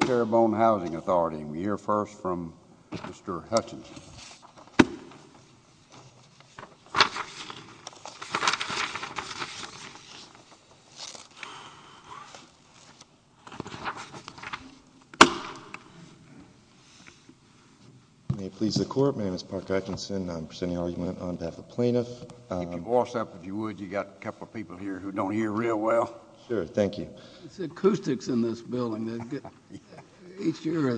Terrebonne Housing Authority. We hear first from Mr. Hutchinson. May it please the court, my name is Park Hutchinson. I'm presenting argument on behalf of plaintiffs. If you'd voice up if you would, you got a couple people here who don't hear real well. Sure, thank you. It's acoustics in this building. Each year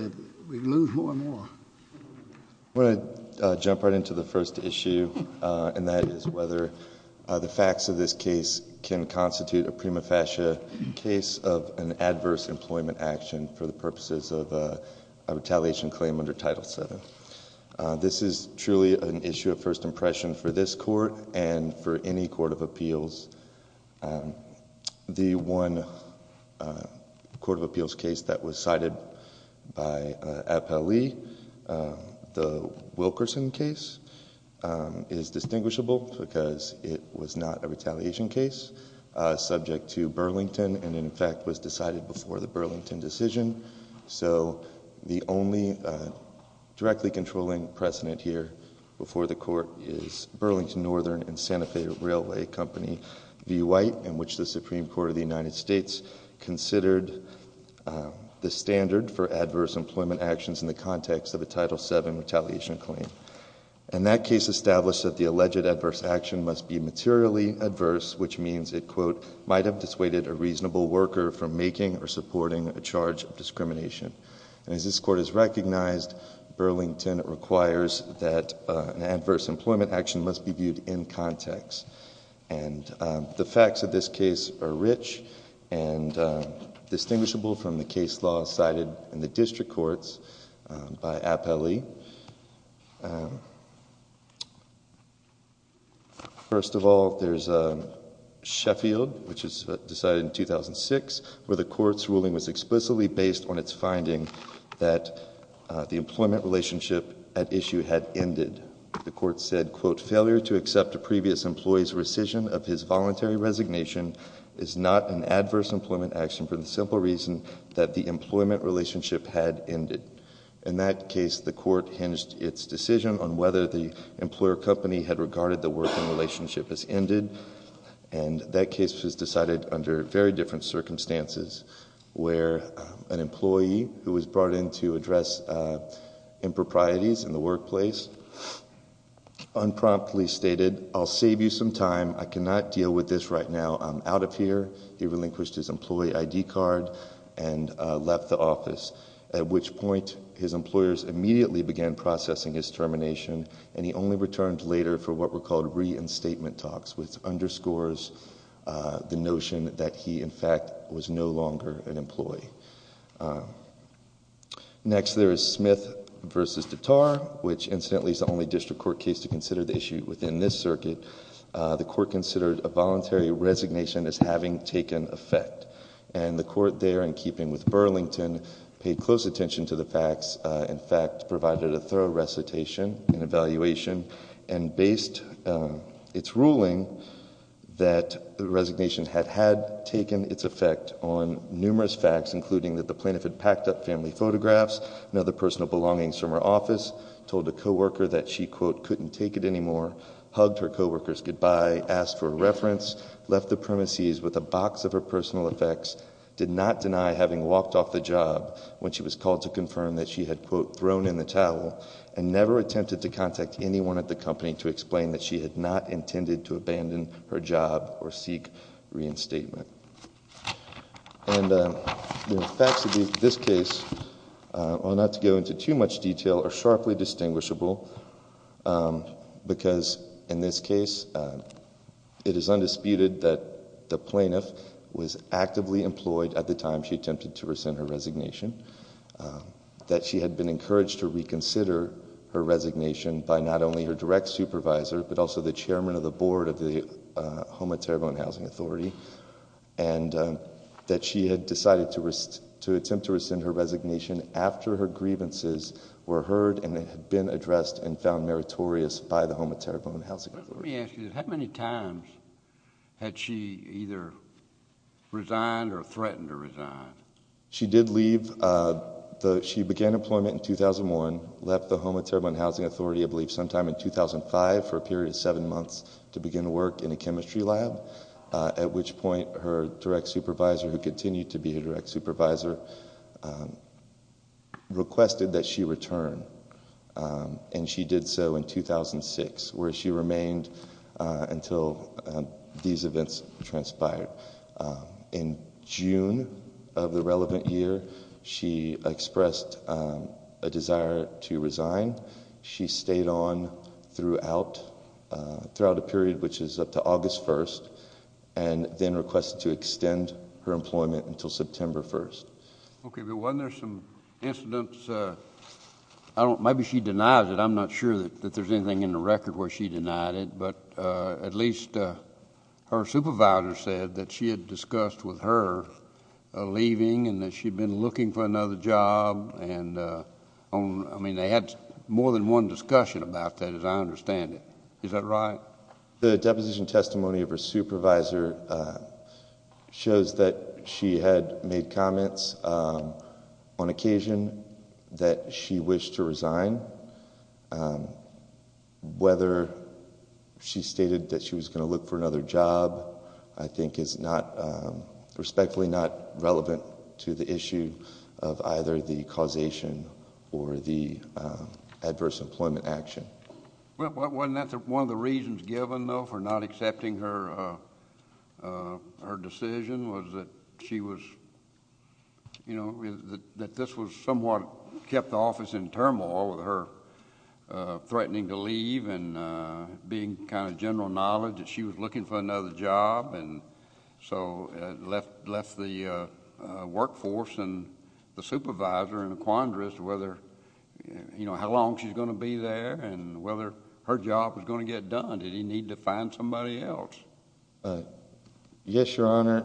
we lose more and more. I want to jump right into the first issue and that is whether the facts of this case can constitute a prima facie case of an adverse employment action for the purposes of a retaliation claim under Title VII. This is truly an issue of first impression for this court and for any court of appeals. The one court of appeals case that was cited by Appellee, the Wilkerson case, is distinguishable because it was not a retaliation case subject to Burlington and in fact was decided before the Burlington decision. So the only directly controlling precedent here before the court is Burlington Northern and Santa Fe Railway Company v. White in which the Supreme Court of the United States considered the standard for adverse employment actions in the context of a Title VII retaliation claim. And that case established that the alleged adverse action must be materially adverse which means it, quote, might have dissuaded a reasonable worker from making or supporting a charge of discrimination. And as this court has recognized, Burlington requires that an adverse employment action must be viewed in context. And the facts of this case are rich and distinguishable from the case law cited in the district courts by Appellee. First of all, there's Sheffield which is decided in 2006 where the court's ruling was explicitly based on its finding that the employment relationship at issue had ended. The court said, quote, failure to accept a previous employee's rescission of his voluntary resignation is not an adverse employment action for the simple reason that the employment relationship had ended. In that case, the court hinged its decision on whether the employer company had regarded the working relationship as ended. And that case was decided under very different circumstances where an employee who was brought in to address improprieties in the workplace unpromptly stated, I'll save you some time. I cannot deal with this right now. I'm out of here. He relinquished his employee ID card and left the office at which point his employers immediately began processing his termination and he only returned later for what were called reinstatement talks which underscores the notion that he, in fact, was no longer an employee. Next, there is Smith v. Dattar which incidentally is the only district court case to consider the circuit, the court considered a voluntary resignation as having taken effect. And the court there in keeping with Burlington paid close attention to the facts, in fact, provided a thorough recitation and evaluation and based its ruling that the resignation had had taken its effect on numerous facts including that the plaintiff had packed up family photographs, another personal belongings from her office, told a co-worker that she, quote, couldn't take it anymore, hugged her co-workers goodbye, asked for reference, left the premises with a box of her personal effects, did not deny having walked off the job when she was called to confirm that she had, quote, thrown in the towel and never attempted to contact anyone at the company to explain that she had not intended to abandon her job or seek reinstatement. And the facts of this case not to go into too much detail are sharply distinguishable because in this case it is undisputed that the plaintiff was actively employed at the time she attempted to rescind her resignation, that she had been encouraged to reconsider her resignation by not only her direct supervisor but also the chairman of the board of the Homa Terrible in Housing Authority and that she had decided to attempt to rescind her resignation after her grievances were heard and had been addressed and found meritorious by the Homa Terrible in Housing Authority. Let me ask you, how many times had she either resigned or threatened to resign? She did leave, she began employment in 2001, left the Homa Terrible in Housing Authority, I believe, sometime in 2005 for a period of seven months to begin work in a chemistry lab at which point her direct supervisor, who continued to be a direct supervisor, requested that she return. And she did so in 2006 where she remained until these events transpired. In June of the relevant year, she expressed a desire to resign. She stayed on throughout a period which is up to August 1st and then requested to extend her employment until September 1st. Okay, but weren't there some incidents, maybe she denies it, I'm not sure that there's anything in the record where she denied it, but at least her supervisor said that she had discussed with her leaving and that she'd been looking for another job. I mean, they had more than one discussion about that as I understand it. Is that right? The deposition testimony of her supervisor shows that she had made comments on occasion that she wished to resign. Whether she stated that she was going to look for another job, I think is respectfully not relevant to the issue of either the causation or the adverse employment action. Well, wasn't that one of the reasons given though for not accepting her decision was that she was, you know, that this was somewhat kept the office in turmoil with her threatening to leave and being kind of general knowledge that she was looking for another job and so left the workforce and the supervisor in a quandary as to whether, you know, how long she's going to be there and whether her job was going to get done. Did he need to find somebody else? Yes, Your Honor.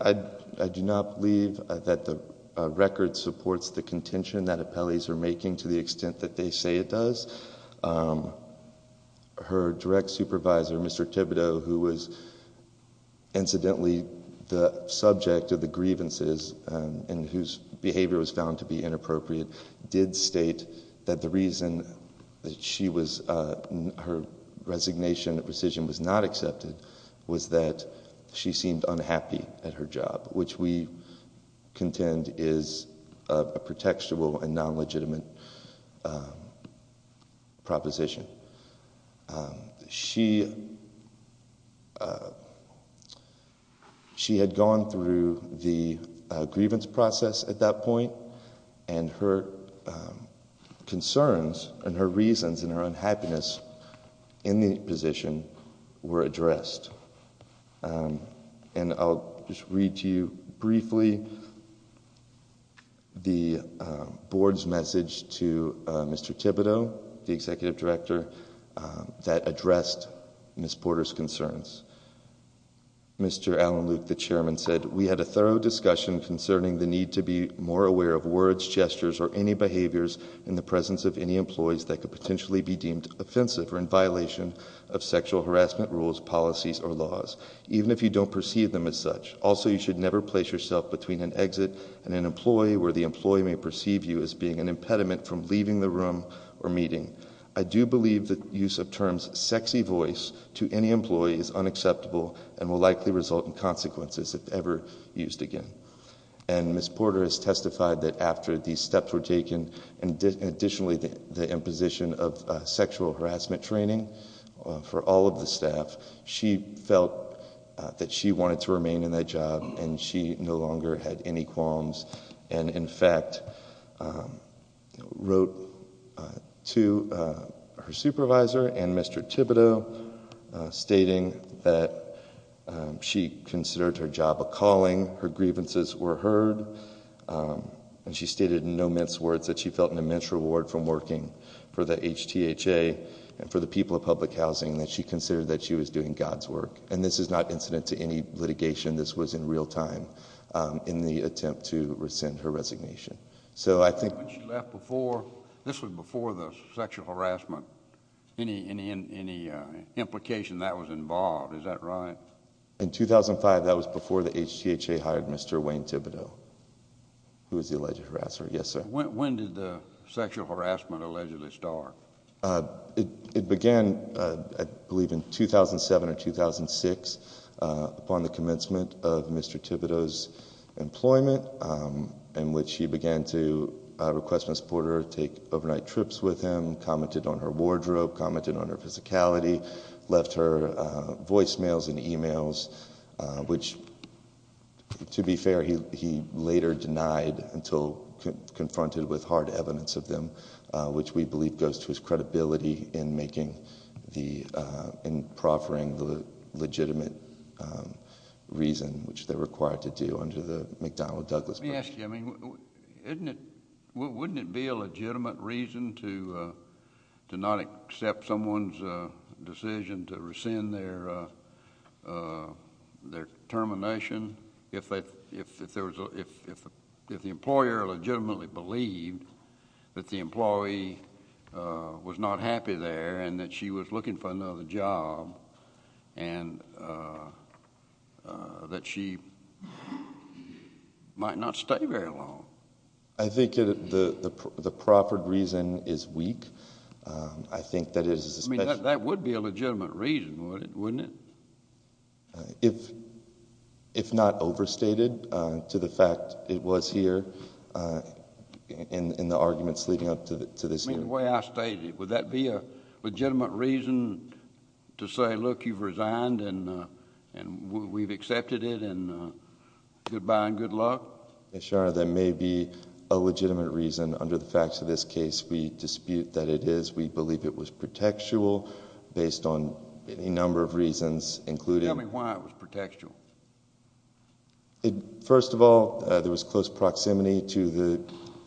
I do not believe that the record supports the contention that appellees are making to the extent that they say it does. Her direct supervisor, Mr. Thibodeau, who was incidentally the subject of the grievances and whose behavior was found to be inappropriate, did state that the reason that she was, her resignation decision was not accepted was that she seemed unhappy at her job, which we contend is a pretextual and non-legitimate proposition. She had gone through the grievance process at that point and her concerns and her reasons and her unhappiness in the position were addressed. And I'll just read to you briefly the board's message to Mr. Thibodeau, the executive director, that addressed Ms. Porter's concerns. Mr. Alan Luke, the chairman, said, we had a thorough discussion concerning the need to be more aware of words, gestures, or any behaviors in the presence of any employees that could potentially be deemed offensive or in even if you don't perceive them as such. Also, you should never place yourself between an exit and an employee where the employee may perceive you as being an impediment from leaving the room or meeting. I do believe the use of terms sexy voice to any employee is unacceptable and will likely result in consequences if ever used again. And Ms. Porter has testified that after these steps were taken and additionally the imposition of sexual harassment training for all of the staff, she felt that she wanted to remain in that job and she no longer had any qualms and in fact wrote to her supervisor and Mr. Thibodeau stating that she considered her job a calling, her grievances were heard, and she stated in no mince words that she felt an immense reward from for the HTHA and for the people of public housing that she considered that she was doing God's work and this is not incident to any litigation. This was in real time in the attempt to rescind her resignation. So I think when she left before, this was before the sexual harassment, any implication that was involved, is that right? In 2005, that was before the HTHA hired Mr. Wayne Thibodeau, who was the alleged harasser. Yes, sir. When did the sexual harassment allegedly start? It began, I believe, in 2007 or 2006 upon the commencement of Mr. Thibodeau's employment in which he began to request Ms. Porter take overnight trips with him, commented on her wardrobe, commented on her physicality, left her voicemails and emails, which to be fair, he later denied until confronted with hard evidence of them, which we believe goes to his credibility in making the, in proffering the legitimate reason which they're required to do under the McDonnell-Douglas program. Let me ask you, I mean, wouldn't it be a condemnation if the employer legitimately believed that the employee was not happy there and that she was looking for another job and that she might not stay very long? I think the proper reason is weak. I think that is if not overstated to the fact it was here in the arguments leading up to this hearing. The way I state it, would that be a legitimate reason to say, look, you've resigned and we've accepted it and goodbye and good luck? Yes, Your Honor, that may be a legitimate reason. Under the facts of this case, we dispute that it is. We believe it was pretextual based on any number of reasons, including... Tell me why it was pretextual. First of all, there was close proximity to the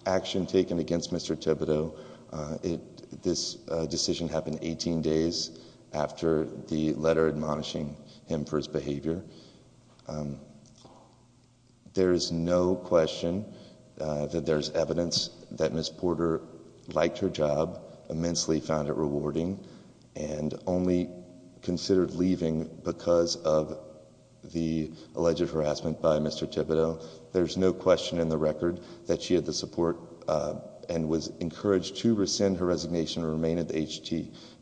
action taken against Mr. Thibodeau. This decision happened 18 days after the letter admonishing him for his behavior. There is no question that there's evidence that Ms. Porter liked her job, immensely found it considered leaving because of the alleged harassment by Mr. Thibodeau. There's no question in the record that she had the support and was encouraged to rescind her resignation and remain at the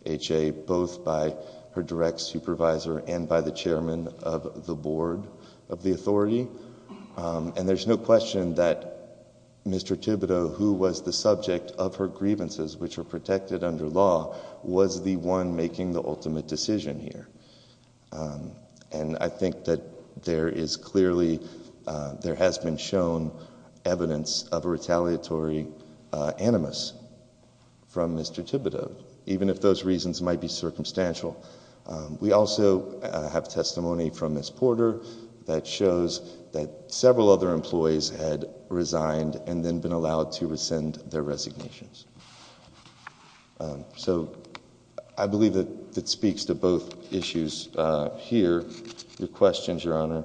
HTA, both by her direct supervisor and by the chairman of the board of the authority. There's no question that Mr. Thibodeau, who was the subject of her grievances, which are protected under law, was the one making the ultimate decision here. I think that there is clearly, there has been shown evidence of a retaliatory animus from Mr. Thibodeau, even if those reasons might be circumstantial. We also have testimony from Ms. Porter that shows that several other employees had resigned and then been allowed to rescind their resignations. So I believe that speaks to both issues here. Your questions, Your Honor.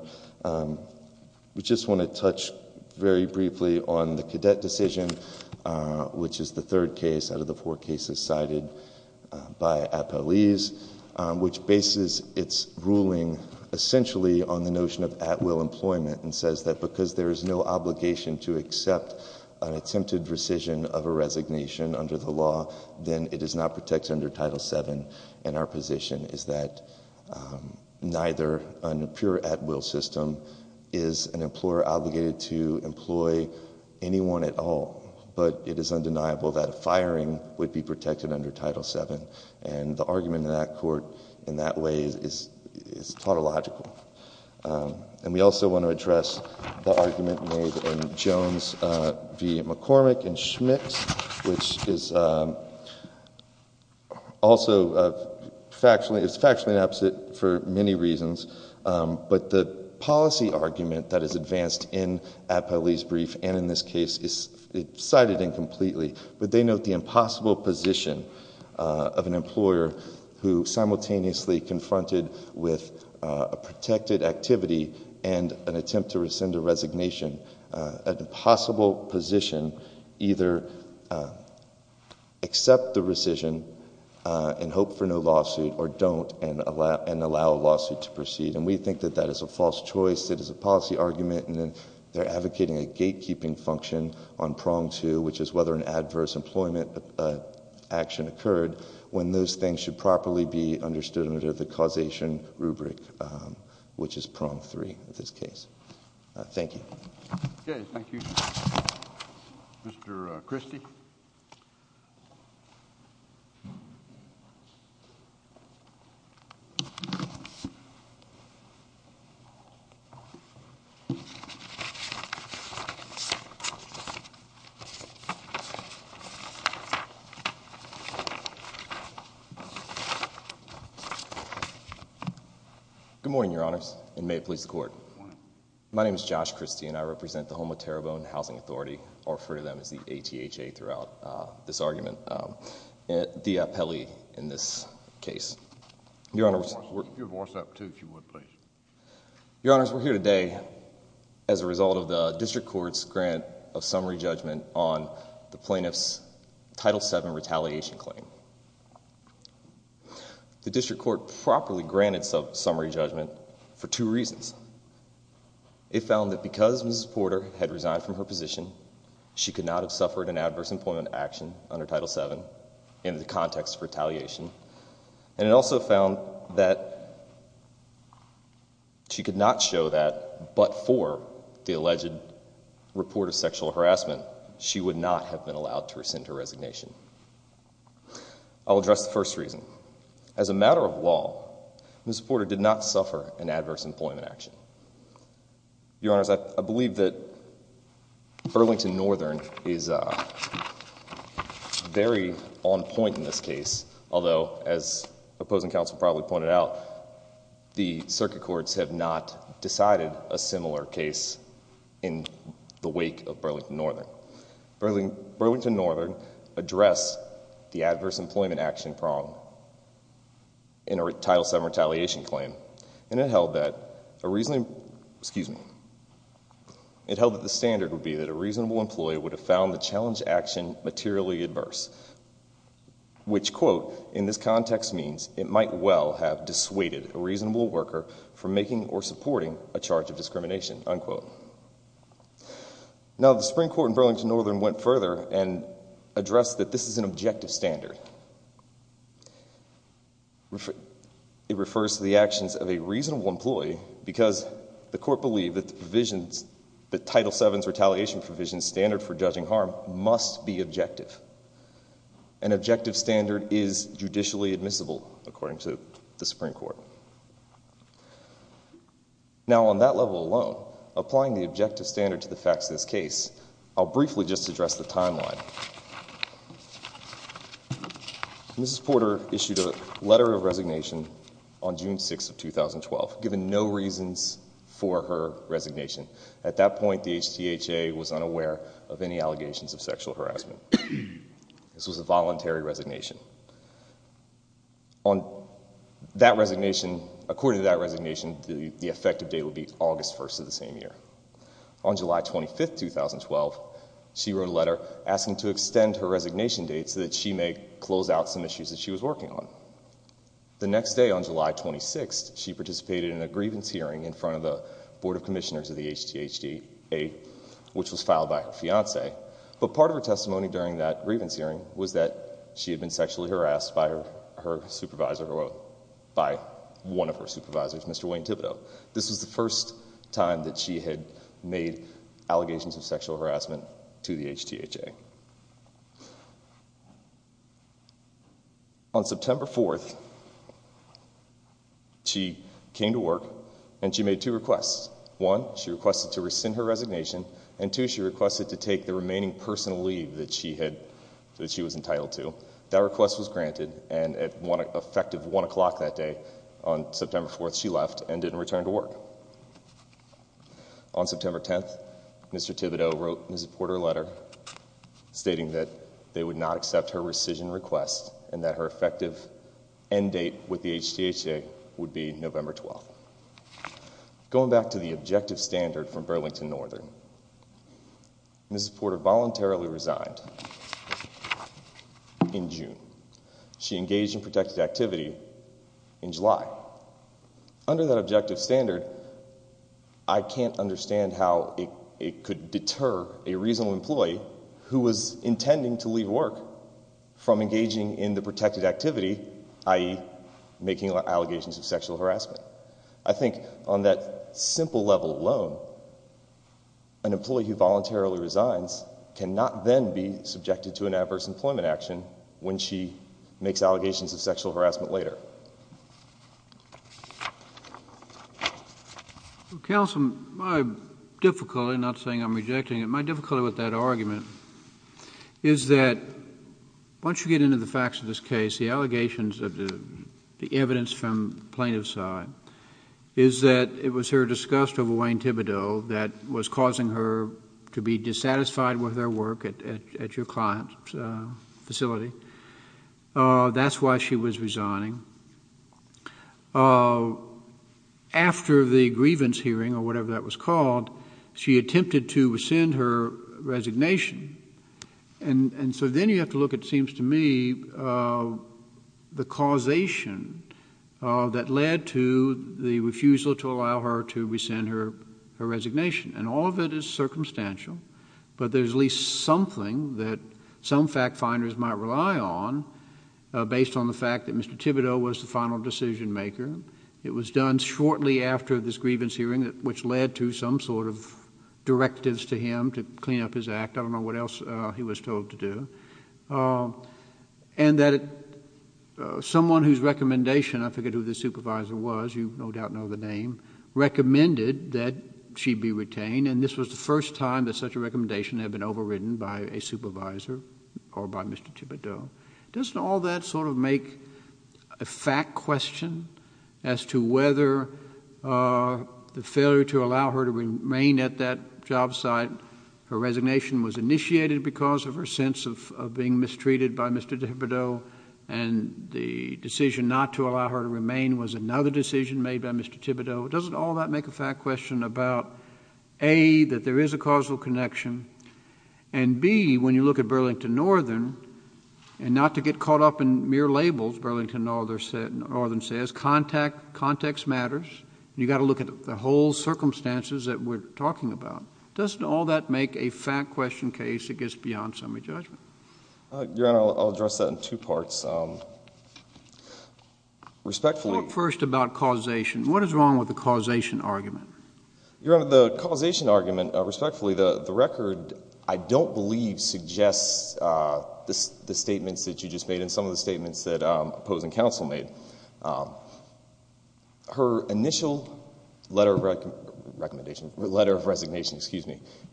We just want to touch very briefly on the cadet decision, which is the third case out of the four cases cited by Appellees, which bases its ruling essentially on the notion of at-will employment and says that because there is no obligation to accept an attempted rescission of a resignation under the law, then it is not protected under Title VII. And our position is that neither a pure at-will system is an employer obligated to employ anyone at all, but it is undeniable that firing would be protected under Title VII. And the argument in that court in that way is tautological. And we also want to address the argument made in Jones v. McCormick and Schmitz, which is also factually opposite for many reasons, but the policy argument that is advanced in Appellee's brief and in this case is cited incompletely, but they note the impossible position of an employer who simultaneously confronted with a protected activity and an attempt to rescind a resignation, an impossible position, either accept the rescission and hope for no lawsuit or don't and allow a lawsuit to proceed. And we think that that is a false choice, it is a policy argument, and then they're advocating a gatekeeping function on prong two, which is whether an adverse employment action occurred when those things should properly be understood under the causation rubric, which is prong three in this case. Thank you. Okay, thank you, Mr. Christie. Good morning, Your Honors, and may it please the Court. My name is Josh Christie and I represent the Homo Terribone Housing Authority, I'll refer to them as the ATHA throughout this argument, the Appellee in this case. Your Honors, we're here today as a result of the District Court's grant of summary judgment on the plaintiff's Title VII retaliation claim. The District Court properly granted summary judgment for two reasons. It found that because Mrs. Porter had resigned from her position, she could not have suffered an adverse employment action under Title VII in the context of retaliation, and it also found that she could not show that but for the alleged report of sexual harassment, she would not have been allowed to rescind her resignation. I'll address the first reason. As a matter of law, Mrs. Porter did not suffer an adverse employment action. Your Honors, I believe that Burlington Northern is very on point in this case, although as opposing counsel probably pointed out, the circuit courts have not decided a similar case in the wake of Burlington Northern. Burlington Northern addressed the adverse employment action prong in a Title VII retaliation claim, and it held that a reasonable, excuse me, it held that the standard would be that a reasonable employee would have found the challenge action materially adverse, which, quote, in this context means it might well have dissuaded a reasonable worker from making or supporting a charge of discrimination, unquote. Now, the Supreme Court in Burlington Northern went further and addressed that this is an objective standard. It refers to the actions of a reasonable employee because the court believed that the provisions, the Title VII's retaliation provisions standard for judging harm must be objective. An objective standard is judicially admissible, according to the Supreme Court. Now, on that level alone, applying the objective standard to the facts of this case, I'll briefly just address the timeline. Mrs. Porter issued a letter of resignation on June 6th of 2012, given no reasons for her resignation. At that point, the HTHA was unaware of any allegations of sexual harassment. This was a voluntary resignation. On that resignation, according to that resignation, the effective date would be August 1st of the same year. On July 25th, 2012, she wrote a letter asking to extend her resignation date so that she may close out some issues that she was working on. The next day, on July 26th, she participated in a grievance hearing in front of the Board of Commissioners of the HTHA, which was filed by her fiance, but part of her testimony during that grievance hearing was that she had been sexually harassed by one of her supervisors, Mr. Wayne Thibodeau. This was the first time that she had made allegations of sexual harassment to the HTHA. On September 4th, she came to work and she made two requests. One, she requested to that she was entitled to. That request was granted, and at effective 1 o'clock that day, on September 4th, she left and didn't return to work. On September 10th, Mr. Thibodeau wrote Mrs. Porter a letter stating that they would not accept her rescission request and that her effective end date with the HTHA would be November 12th. Going back to the objective standard from June, she engaged in protected activity in July. Under that objective standard, I can't understand how it could deter a reasonable employee who was intending to leave work from engaging in the protected activity, i.e. making allegations of sexual harassment. I think on that an adverse employment action when she makes allegations of sexual harassment later. Counsel, my difficulty, not saying I'm rejecting it, my difficulty with that argument is that once you get into the facts of this case, the allegations of the evidence from plaintiff's side, is that it was her disgust over Wayne Thibodeau that was causing her to be dissatisfied with her work at your client's facility. That's why she was resigning. After the grievance hearing, or whatever that was called, she attempted to rescind her resignation. Then you have to look at, it seems to me, the causation that led to the refusal to allow her to rescind her resignation. All of it is circumstantial, but there's at least something that some fact finders might rely on based on the fact that Mr. Thibodeau was the final decision maker. It was done shortly after this grievance hearing, which led to some sort of directives to him to clean up his act. I don't know what else he was told to do. Someone whose recommendation, I forget who the supervisor was, you no doubt know the name, recommended that she be retained. This was the first time that such a recommendation had been overridden by a supervisor or by Mr. Thibodeau. Doesn't all that make a fact question as to whether the failure to allow her to remain at that job site, her resignation was initiated because of her sense of being mistreated by Mr. Thibodeau? Doesn't all that make a fact question about, A, that there is a causal connection, and B, when you look at Burlington Northern, and not to get caught up in mere labels, Burlington Northern says, context matters, and you've got to look at the whole circumstances that we're talking about. Doesn't all that make a fact question case that gets beyond summary judgment? Your Honor, I'll address that in two parts. Respectfully. Talk first about causation. What is wrong with the causation argument? Your Honor, the causation argument, respectfully, the record, I don't believe, suggests the statements that you just made and some of the statements that opposing counsel made. Her initial letter of recommendation,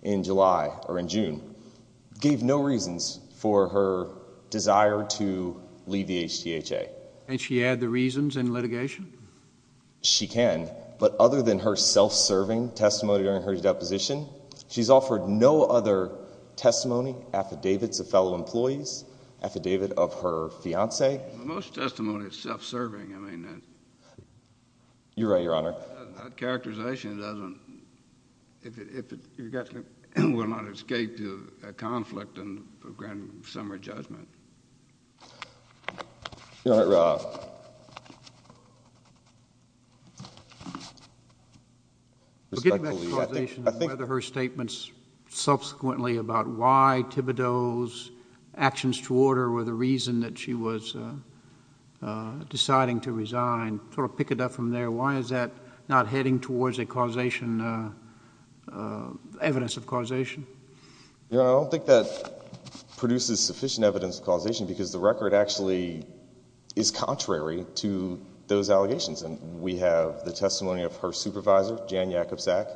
in July, or in June, gave no reasons for her desire to leave the HTHA. Can't she add the reasons in litigation? She can, but other than her self-serving testimony during her deposition, she's offered no other testimony, affidavits of fellow employees, affidavit of her fiance. Most testimony is self-serving. You're right, Your Honor. That characterization doesn't, if it, you're guessing, will not escape a conflict and a grand summary judgment. Your Honor, respectfully, I think. Forgetting that causation, whether her statements subsequently about why Thibodeau's actions toward her were the reason that she was deciding to resign, sort of pick it up from there. Why is that heading towards a causation, evidence of causation? Your Honor, I don't think that produces sufficient evidence of causation because the record actually is contrary to those allegations. And we have the testimony of her supervisor, Jan Jakubczak,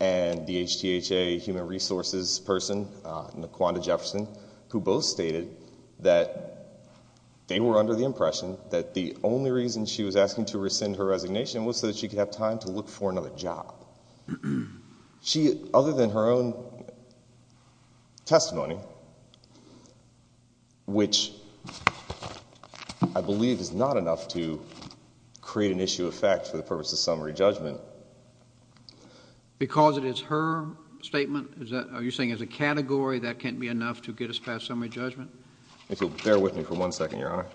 and the HTHA human resources person, Naquanda Jefferson, who both stated that they were under the impression that the only reason she was asking to rescind her resignation was so that she could have time to look for another job. She, other than her own testimony, which I believe is not enough to create an issue of fact for the purpose of summary judgment. Because it is her statement, is that, are you saying as a category that can't be enough to get us past summary judgment? If you'll bear with me for one second, Your Honor.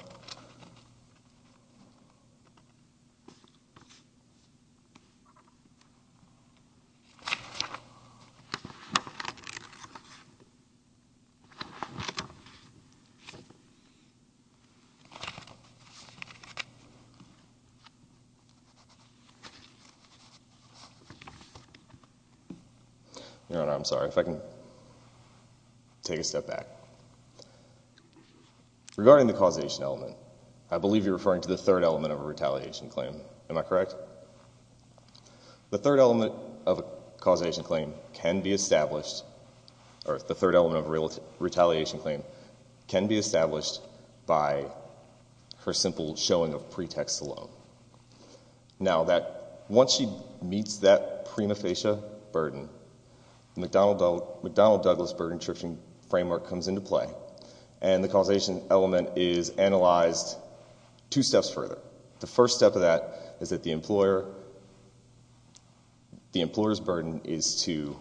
Your Honor, I'm sorry. If I can take a step back. Regarding the causation element, I believe you're referring to the third element of a The third element of a causation claim can be established, or the third element of a retaliation claim, can be established by her simple showing of pretext alone. Now that, once she meets that prima facie burden, the McDonnell-Douglas burden-tripping framework comes into play. And the causation element is analyzed two steps further. The first step of that is that the employer, the employer's burden is to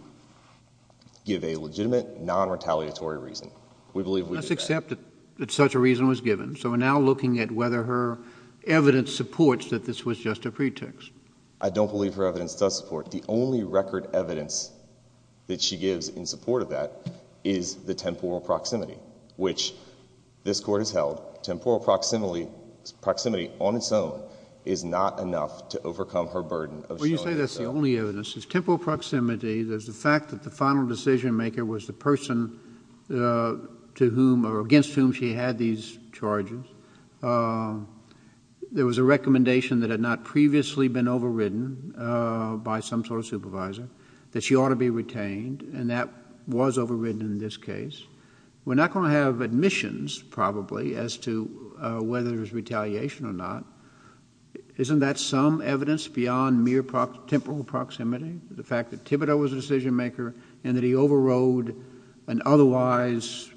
give a legitimate, non-retaliatory reason. Let's accept that such a reason was given. So we're now looking at whether her evidence supports that this was just a pretext. I don't believe her evidence does support. The only record evidence that she gives in support of that is the temporal proximity, which this Court has held. Temporal proximity on its own is not enough to overcome her burden. Well, you say that's the only evidence. It's temporal proximity. There's the fact that the final decision maker was the person to whom, or against whom she had these charges. There was a recommendation that had not previously been overridden by some sort of supervisor, that she ought to be retained, and that was overridden in this case. We're not going to have admissions, probably, as to whether there's retaliation or not. Isn't that some evidence beyond mere temporal proximity, the fact that Thibodeau was a decision maker and that he overrode an otherwise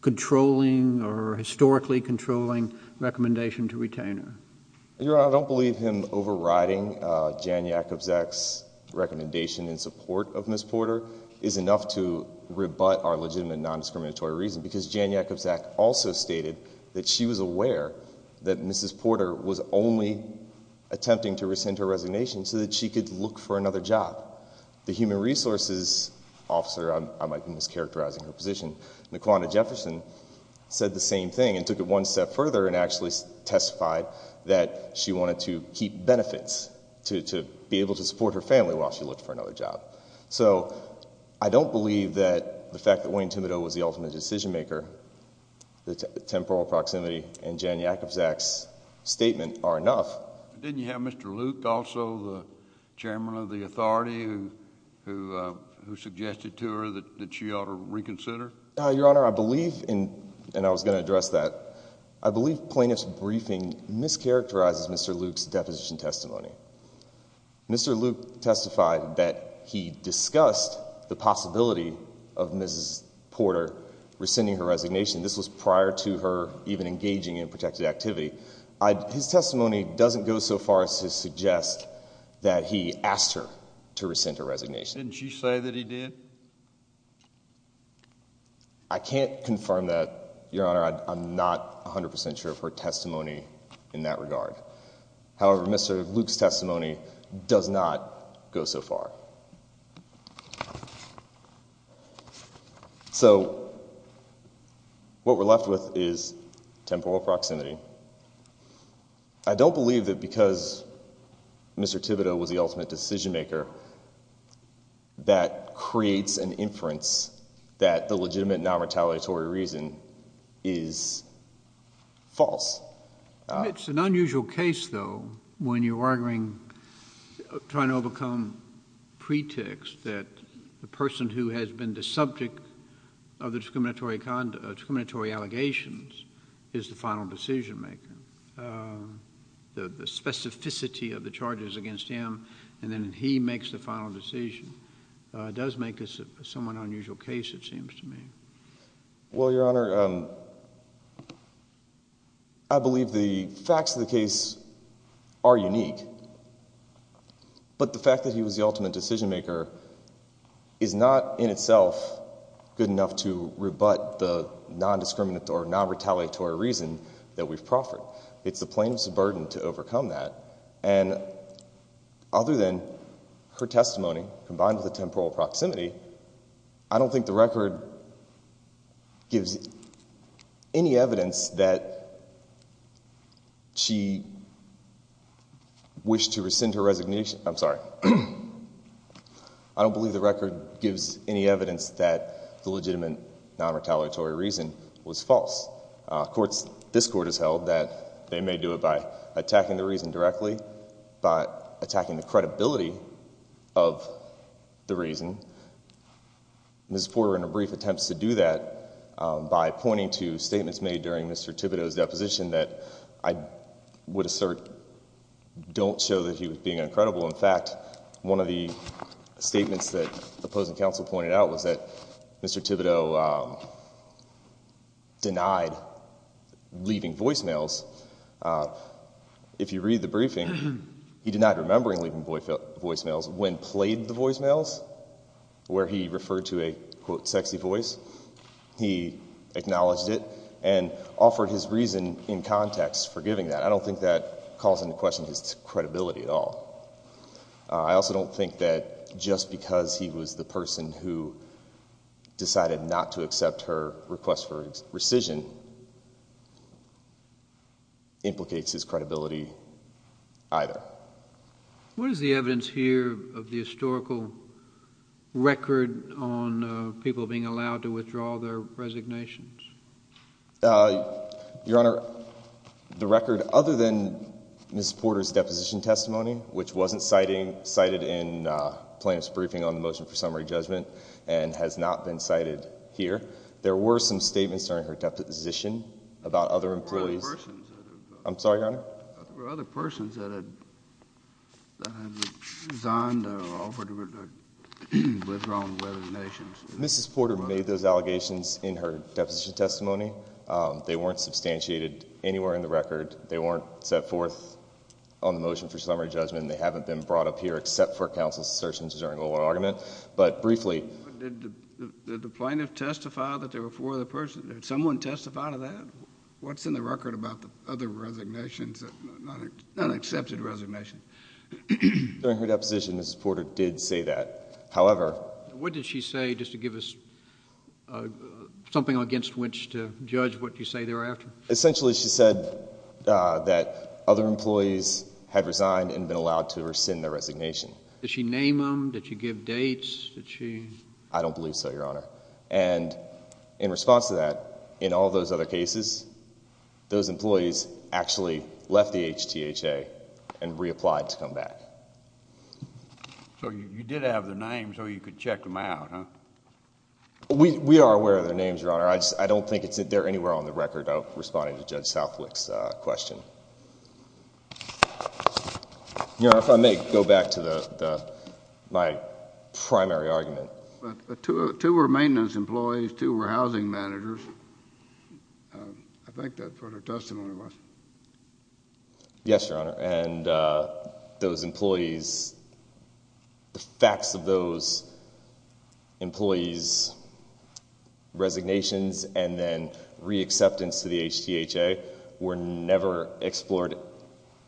controlling or historically controlling recommendation to retain her? Your Honor, I don't believe him overriding Jan Jakubczak's recommendation in support of Ms. Porter is enough to rebut our legitimate nondiscriminatory reason, because Jan Jakubczak also stated that she was aware that Mrs. Porter was only attempting to rescind her resignation so that she could look for another job. The human resources officer, I might be mischaracterizing her position, Naquanna Jefferson, said the same thing and took it one step further and actually testified that she wanted to keep benefits to be able to support her family while she looked for another job. So I don't believe that the fact that Wayne Thibodeau was the ultimate decision maker, temporal proximity, and Jan Jakubczak's statement are enough. Didn't you have Mr. Luke also, the chairman of the authority, who suggested to her that she ought to reconsider? Your Honor, I believe, and I was going to address that, I believe plaintiff's briefing mischaracterizes Mr. Luke's deposition testimony. Mr. Luke testified that he discussed the possibility of Mrs. Porter rescinding her resignation. This was prior to her even engaging in protected activity. His testimony doesn't go so far as to suggest that he asked her to rescind her resignation. Didn't you say that he did? I can't confirm that, Your Honor. I'm not 100% sure of her testimony in that regard. However, Mr. Luke's testimony does not go so far. So what we're left with is temporal proximity. I don't believe that because Mr. Thibodeau was the inference that the legitimate non-retaliatory reason is false. It's an unusual case, though, when you're arguing, trying to overcome pretext that the person who has been the subject of the discriminatory allegations is the final decision maker. The specificity of the charges against him and then he makes the final decision does make this a somewhat unusual case, it seems to me. Well, Your Honor, I believe the facts of the case are unique. But the fact that he was the ultimate decision maker is not in itself good enough to rebut the non-discriminatory or non-retaliatory reason that we've proffered. It's the plaintiff's burden to overcome that. And other than her testimony, combined with the temporal proximity, I don't think the record gives any evidence that she wished to rescind her resignation. I'm sorry. I don't believe the record gives any evidence that the legitimate non-retaliatory reason was false. This Court has held that they may do it by the reason. Ms. Porter, in her brief attempts to do that, by pointing to statements made during Mr. Thibodeau's deposition that I would assert don't show that he was being uncredible. In fact, one of the statements that the opposing counsel pointed out was that Mr. Thibodeau denied leaving voicemails. If you read the briefing, he denied remembering leaving voicemails when played the voicemails where he referred to a sexy voice. He acknowledged it and offered his reason in context for giving that. I don't think that calls into question his credibility at all. I also don't think that just because he was the person who decided not to accept her request for rescission implicates his credibility either. What is the evidence here of the historical record on people being allowed to withdraw their resignations? Your Honor, the record other than Ms. Porter's deposition testimony, which wasn't cited in plaintiff's briefing on the motion for summary judgment and has not been cited here, there were some statements during her deposition about other employees. I'm sorry, Your Honor? There were other persons that had resigned or offered to withdraw their resignations. Mrs. Porter made those allegations in her deposition testimony. They weren't substantiated anywhere in the record. They weren't set forth on the motion for summary judgment. They haven't been brought up here except for counsel's assertions during oral argument. But briefly, did the plaintiff testify that there were four other persons? Did someone testify to that? What's in the record about the other resignations, the unaccepted resignation? During her deposition, Mrs. Porter did say that. However, what did she say just to give us something against which to judge what you say thereafter? Essentially, she said that other employees had resigned and been allowed to rescind their resignation. Did she name them? Did she give dates? Did she? I don't believe so, Your Honor. In response to that, in all those other cases, those employees actually left the HTHA and reapplied to come back. So you did have their names so you could check them out, huh? We are aware of their names, Your Honor. I don't think they're anywhere on the record responding to Judge Southwick's question. Your Honor, if I may go back to my primary argument. Two were maintenance employees, two were housing managers. I think that's what her testimony was. Yes, Your Honor. And those employees, the facts of those employees' resignations and then reacceptance to the HTHA were never explored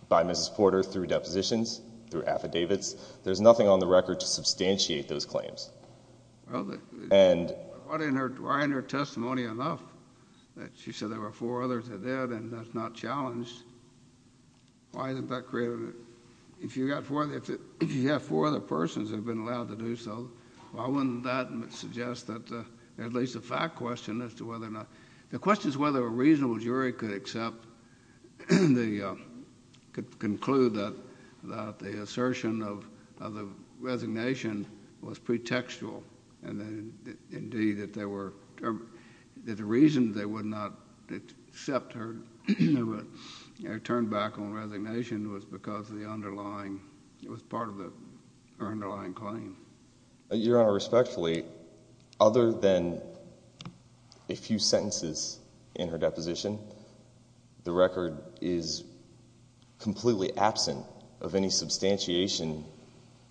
by Mrs. Porter through depositions, through affidavits. There's nothing on the record to substantiate those claims. Why isn't her testimony enough? She said there were four others that did and that's not challenged. If you have four other persons that have been allowed to do so, why wouldn't that suggest at least a fact question as to whether or not—the question is whether a reasonable jury could accept—could conclude that the assertion of the resignation was pretextual and then indeed that there were—that the reason they would not accept her return back on resignation was because the underlying—it was part of her underlying claim. Your Honor, respectfully, other than a few sentences in her deposition, the record is completely absent of any substantiation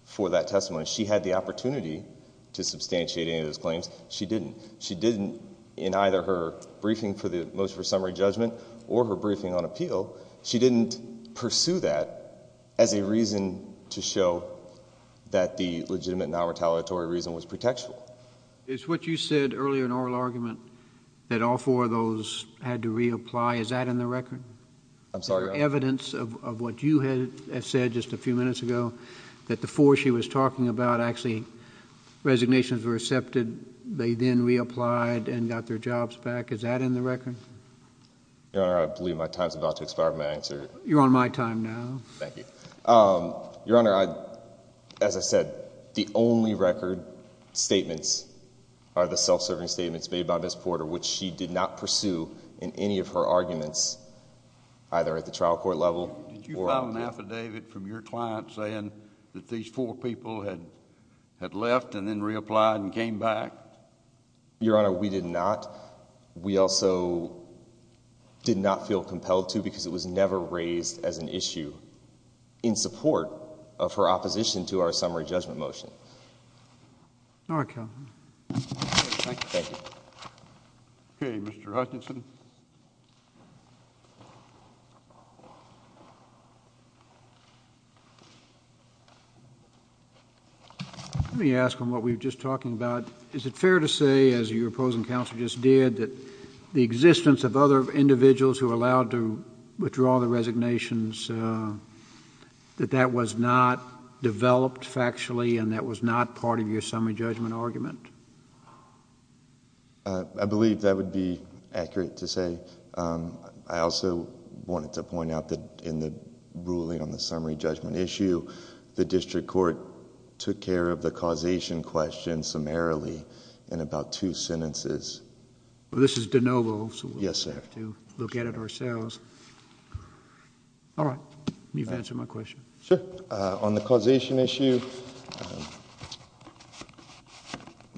for that testimony. She had the opportunity to substantiate any of those claims. She didn't. She didn't in either her briefing for the motion for summary judgment or her briefing on appeal, she didn't pursue that as a reason to show that the legitimate non-retaliatory reason was pretextual. Is what you said earlier in oral argument that all four of those had to reapply, is that in the record? I'm sorry, Your Honor? Is there evidence of what you had said just a few minutes ago that the four she was talking about actually—resignations were accepted, they then reapplied and got their jobs back, is that in the record? Your Honor, I believe my time is about to expire for my answer. You're on my time now. Thank you. Your Honor, as I said, the only record statements are the self-serving statements made by Ms. Porter, which she did not pursue in any of her arguments, either at the trial court level or— Did you file an affidavit from your client saying that these four people had left and then reapplied and came back? Your Honor, we did not. We also did not feel in support of her opposition to our summary judgment motion. All right, counsel. Thank you. Okay, Mr. Hutchinson. Let me ask on what we were just talking about, is it fair to say, as your opposing counsel just did, that the existence of other individuals who allowed to withdraw the resignations that that was not developed factually and that was not part of your summary judgment argument? I believe that would be accurate to say. I also wanted to point out that in the ruling on the summary judgment issue, the district court took care of the causation question summarily in about two sentences. This is de novo, so we'll have to look at it ourselves. All right. You've answered my question. Sure. On the causation issue,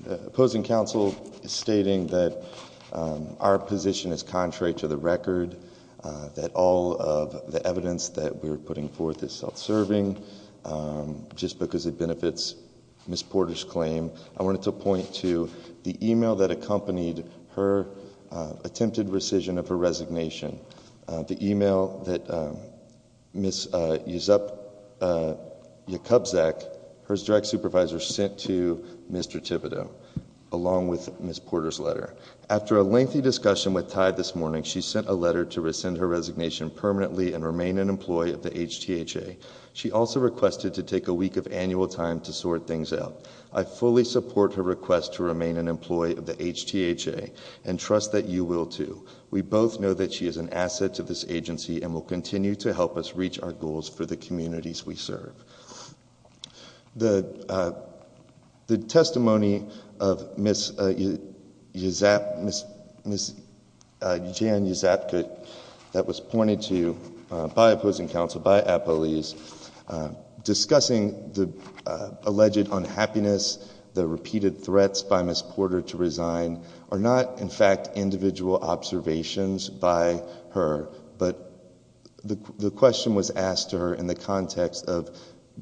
the opposing counsel is stating that our position is contrary to the record, that all of the evidence that we're putting forth is self-serving just because it benefits Ms. Porter's claim. I wanted to point to the email that accompanied her attempted rescission of her resignation, the email that Ms. Yusup Yakubczak, her direct supervisor, sent to Mr. Thibodeau along with Ms. Porter's letter. After a lengthy discussion with Tide this morning, she sent a letter to rescind her resignation permanently and remain an employee of the HTHA. She also requested to take a week of annual time to sort things out. I fully support her request to remain an employee of the HTHA and trust that you will too. We both know that she is an asset to this agency and will continue to help us reach our goals for the communities we serve. The testimony of Ms. Jan Yusupakut that was pointed to by opposing counsel, by Apolise, discussing the alleged unhappiness, the repeated threats by Ms. Porter to resign are not in fact individual observations by her, but the question was asked to her in the context of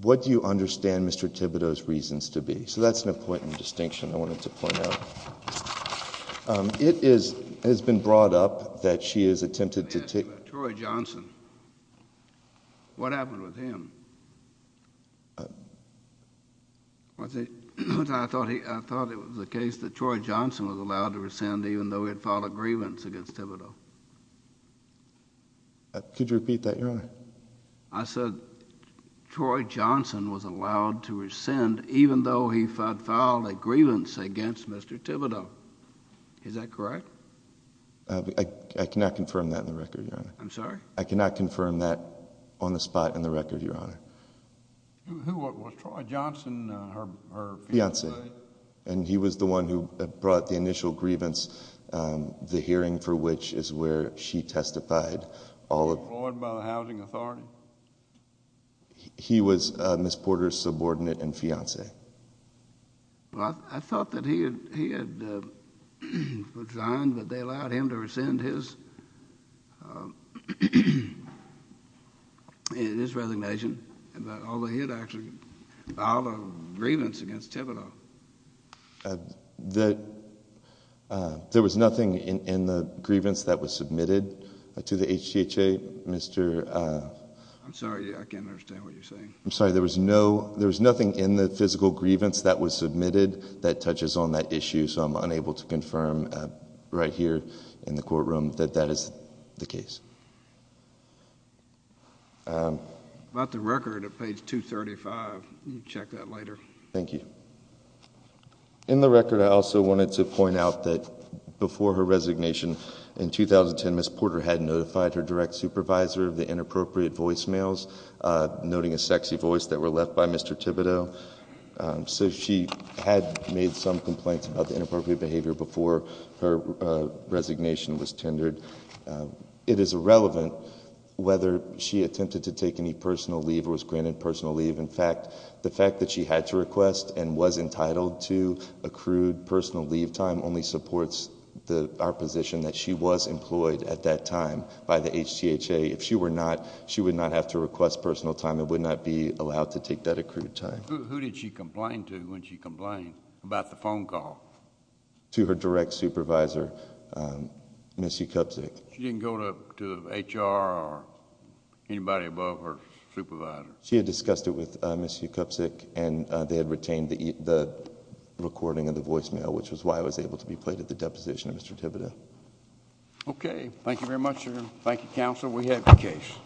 what do you understand Mr. Thibodeau's reasons to be? That's an important distinction I wanted to point out. It has been brought up that she has attempted to take... Troy Johnson. What happened with him? I thought it was the case that Troy Johnson was allowed to rescind even though he had filed a grievance against Thibodeau. Could you repeat that, Your Honor? I said, Troy Johnson was allowed to rescind even though he had filed a grievance against Mr. Thibodeau. Is that correct? I cannot confirm that in the record, Your Honor. I'm sorry? I cannot confirm that on the spot in the record, Your Honor. Who was Troy Johnson, her fiancé? And he was the one who brought the initial grievance, the hearing for which is where she testified. Was he employed by the housing authority? He was Ms. Porter's subordinate and fiancé. Well, I thought that he had resigned but they allowed him to rescind his resignation although he had actually filed a grievance against Thibodeau. There was nothing in the grievance that was submitted to the HGHA, Mr.... I'm sorry, I can't understand what you're saying. I'm sorry, there was nothing in the physical grievance that was submitted that touches on that issue so I'm unable to confirm right here in the courtroom that that is the case. About the record at page 235, you can check that later. Thank you. In the record, I also wanted to point out that before her resignation in 2010, Ms. Porter had notified her direct supervisor of the inappropriate voicemails noting a sexy voice that were left by Mr. Thibodeau. So she had made some complaints about the inappropriate behavior before her resignation was tendered. It is irrelevant whether she attempted to take any personal leave or was granted personal leave. In fact, the fact that she had to request and was entitled to accrued personal leave time only supports our position that she was employed at that time by the HGHA. She would not have to request personal time. It would not be allowed to take that accrued time. Who did she complain to when she complained about the phone call? To her direct supervisor, Ms. Ukupsik. She didn't go to HR or anybody above her supervisor? She had discussed it with Ms. Ukupsik and they had retained the recording of the voicemail, which was why it was able to be played at the deposition of Mr. Thibodeau. Okay, thank you very much, sir. Thank you, counsel. We have the case.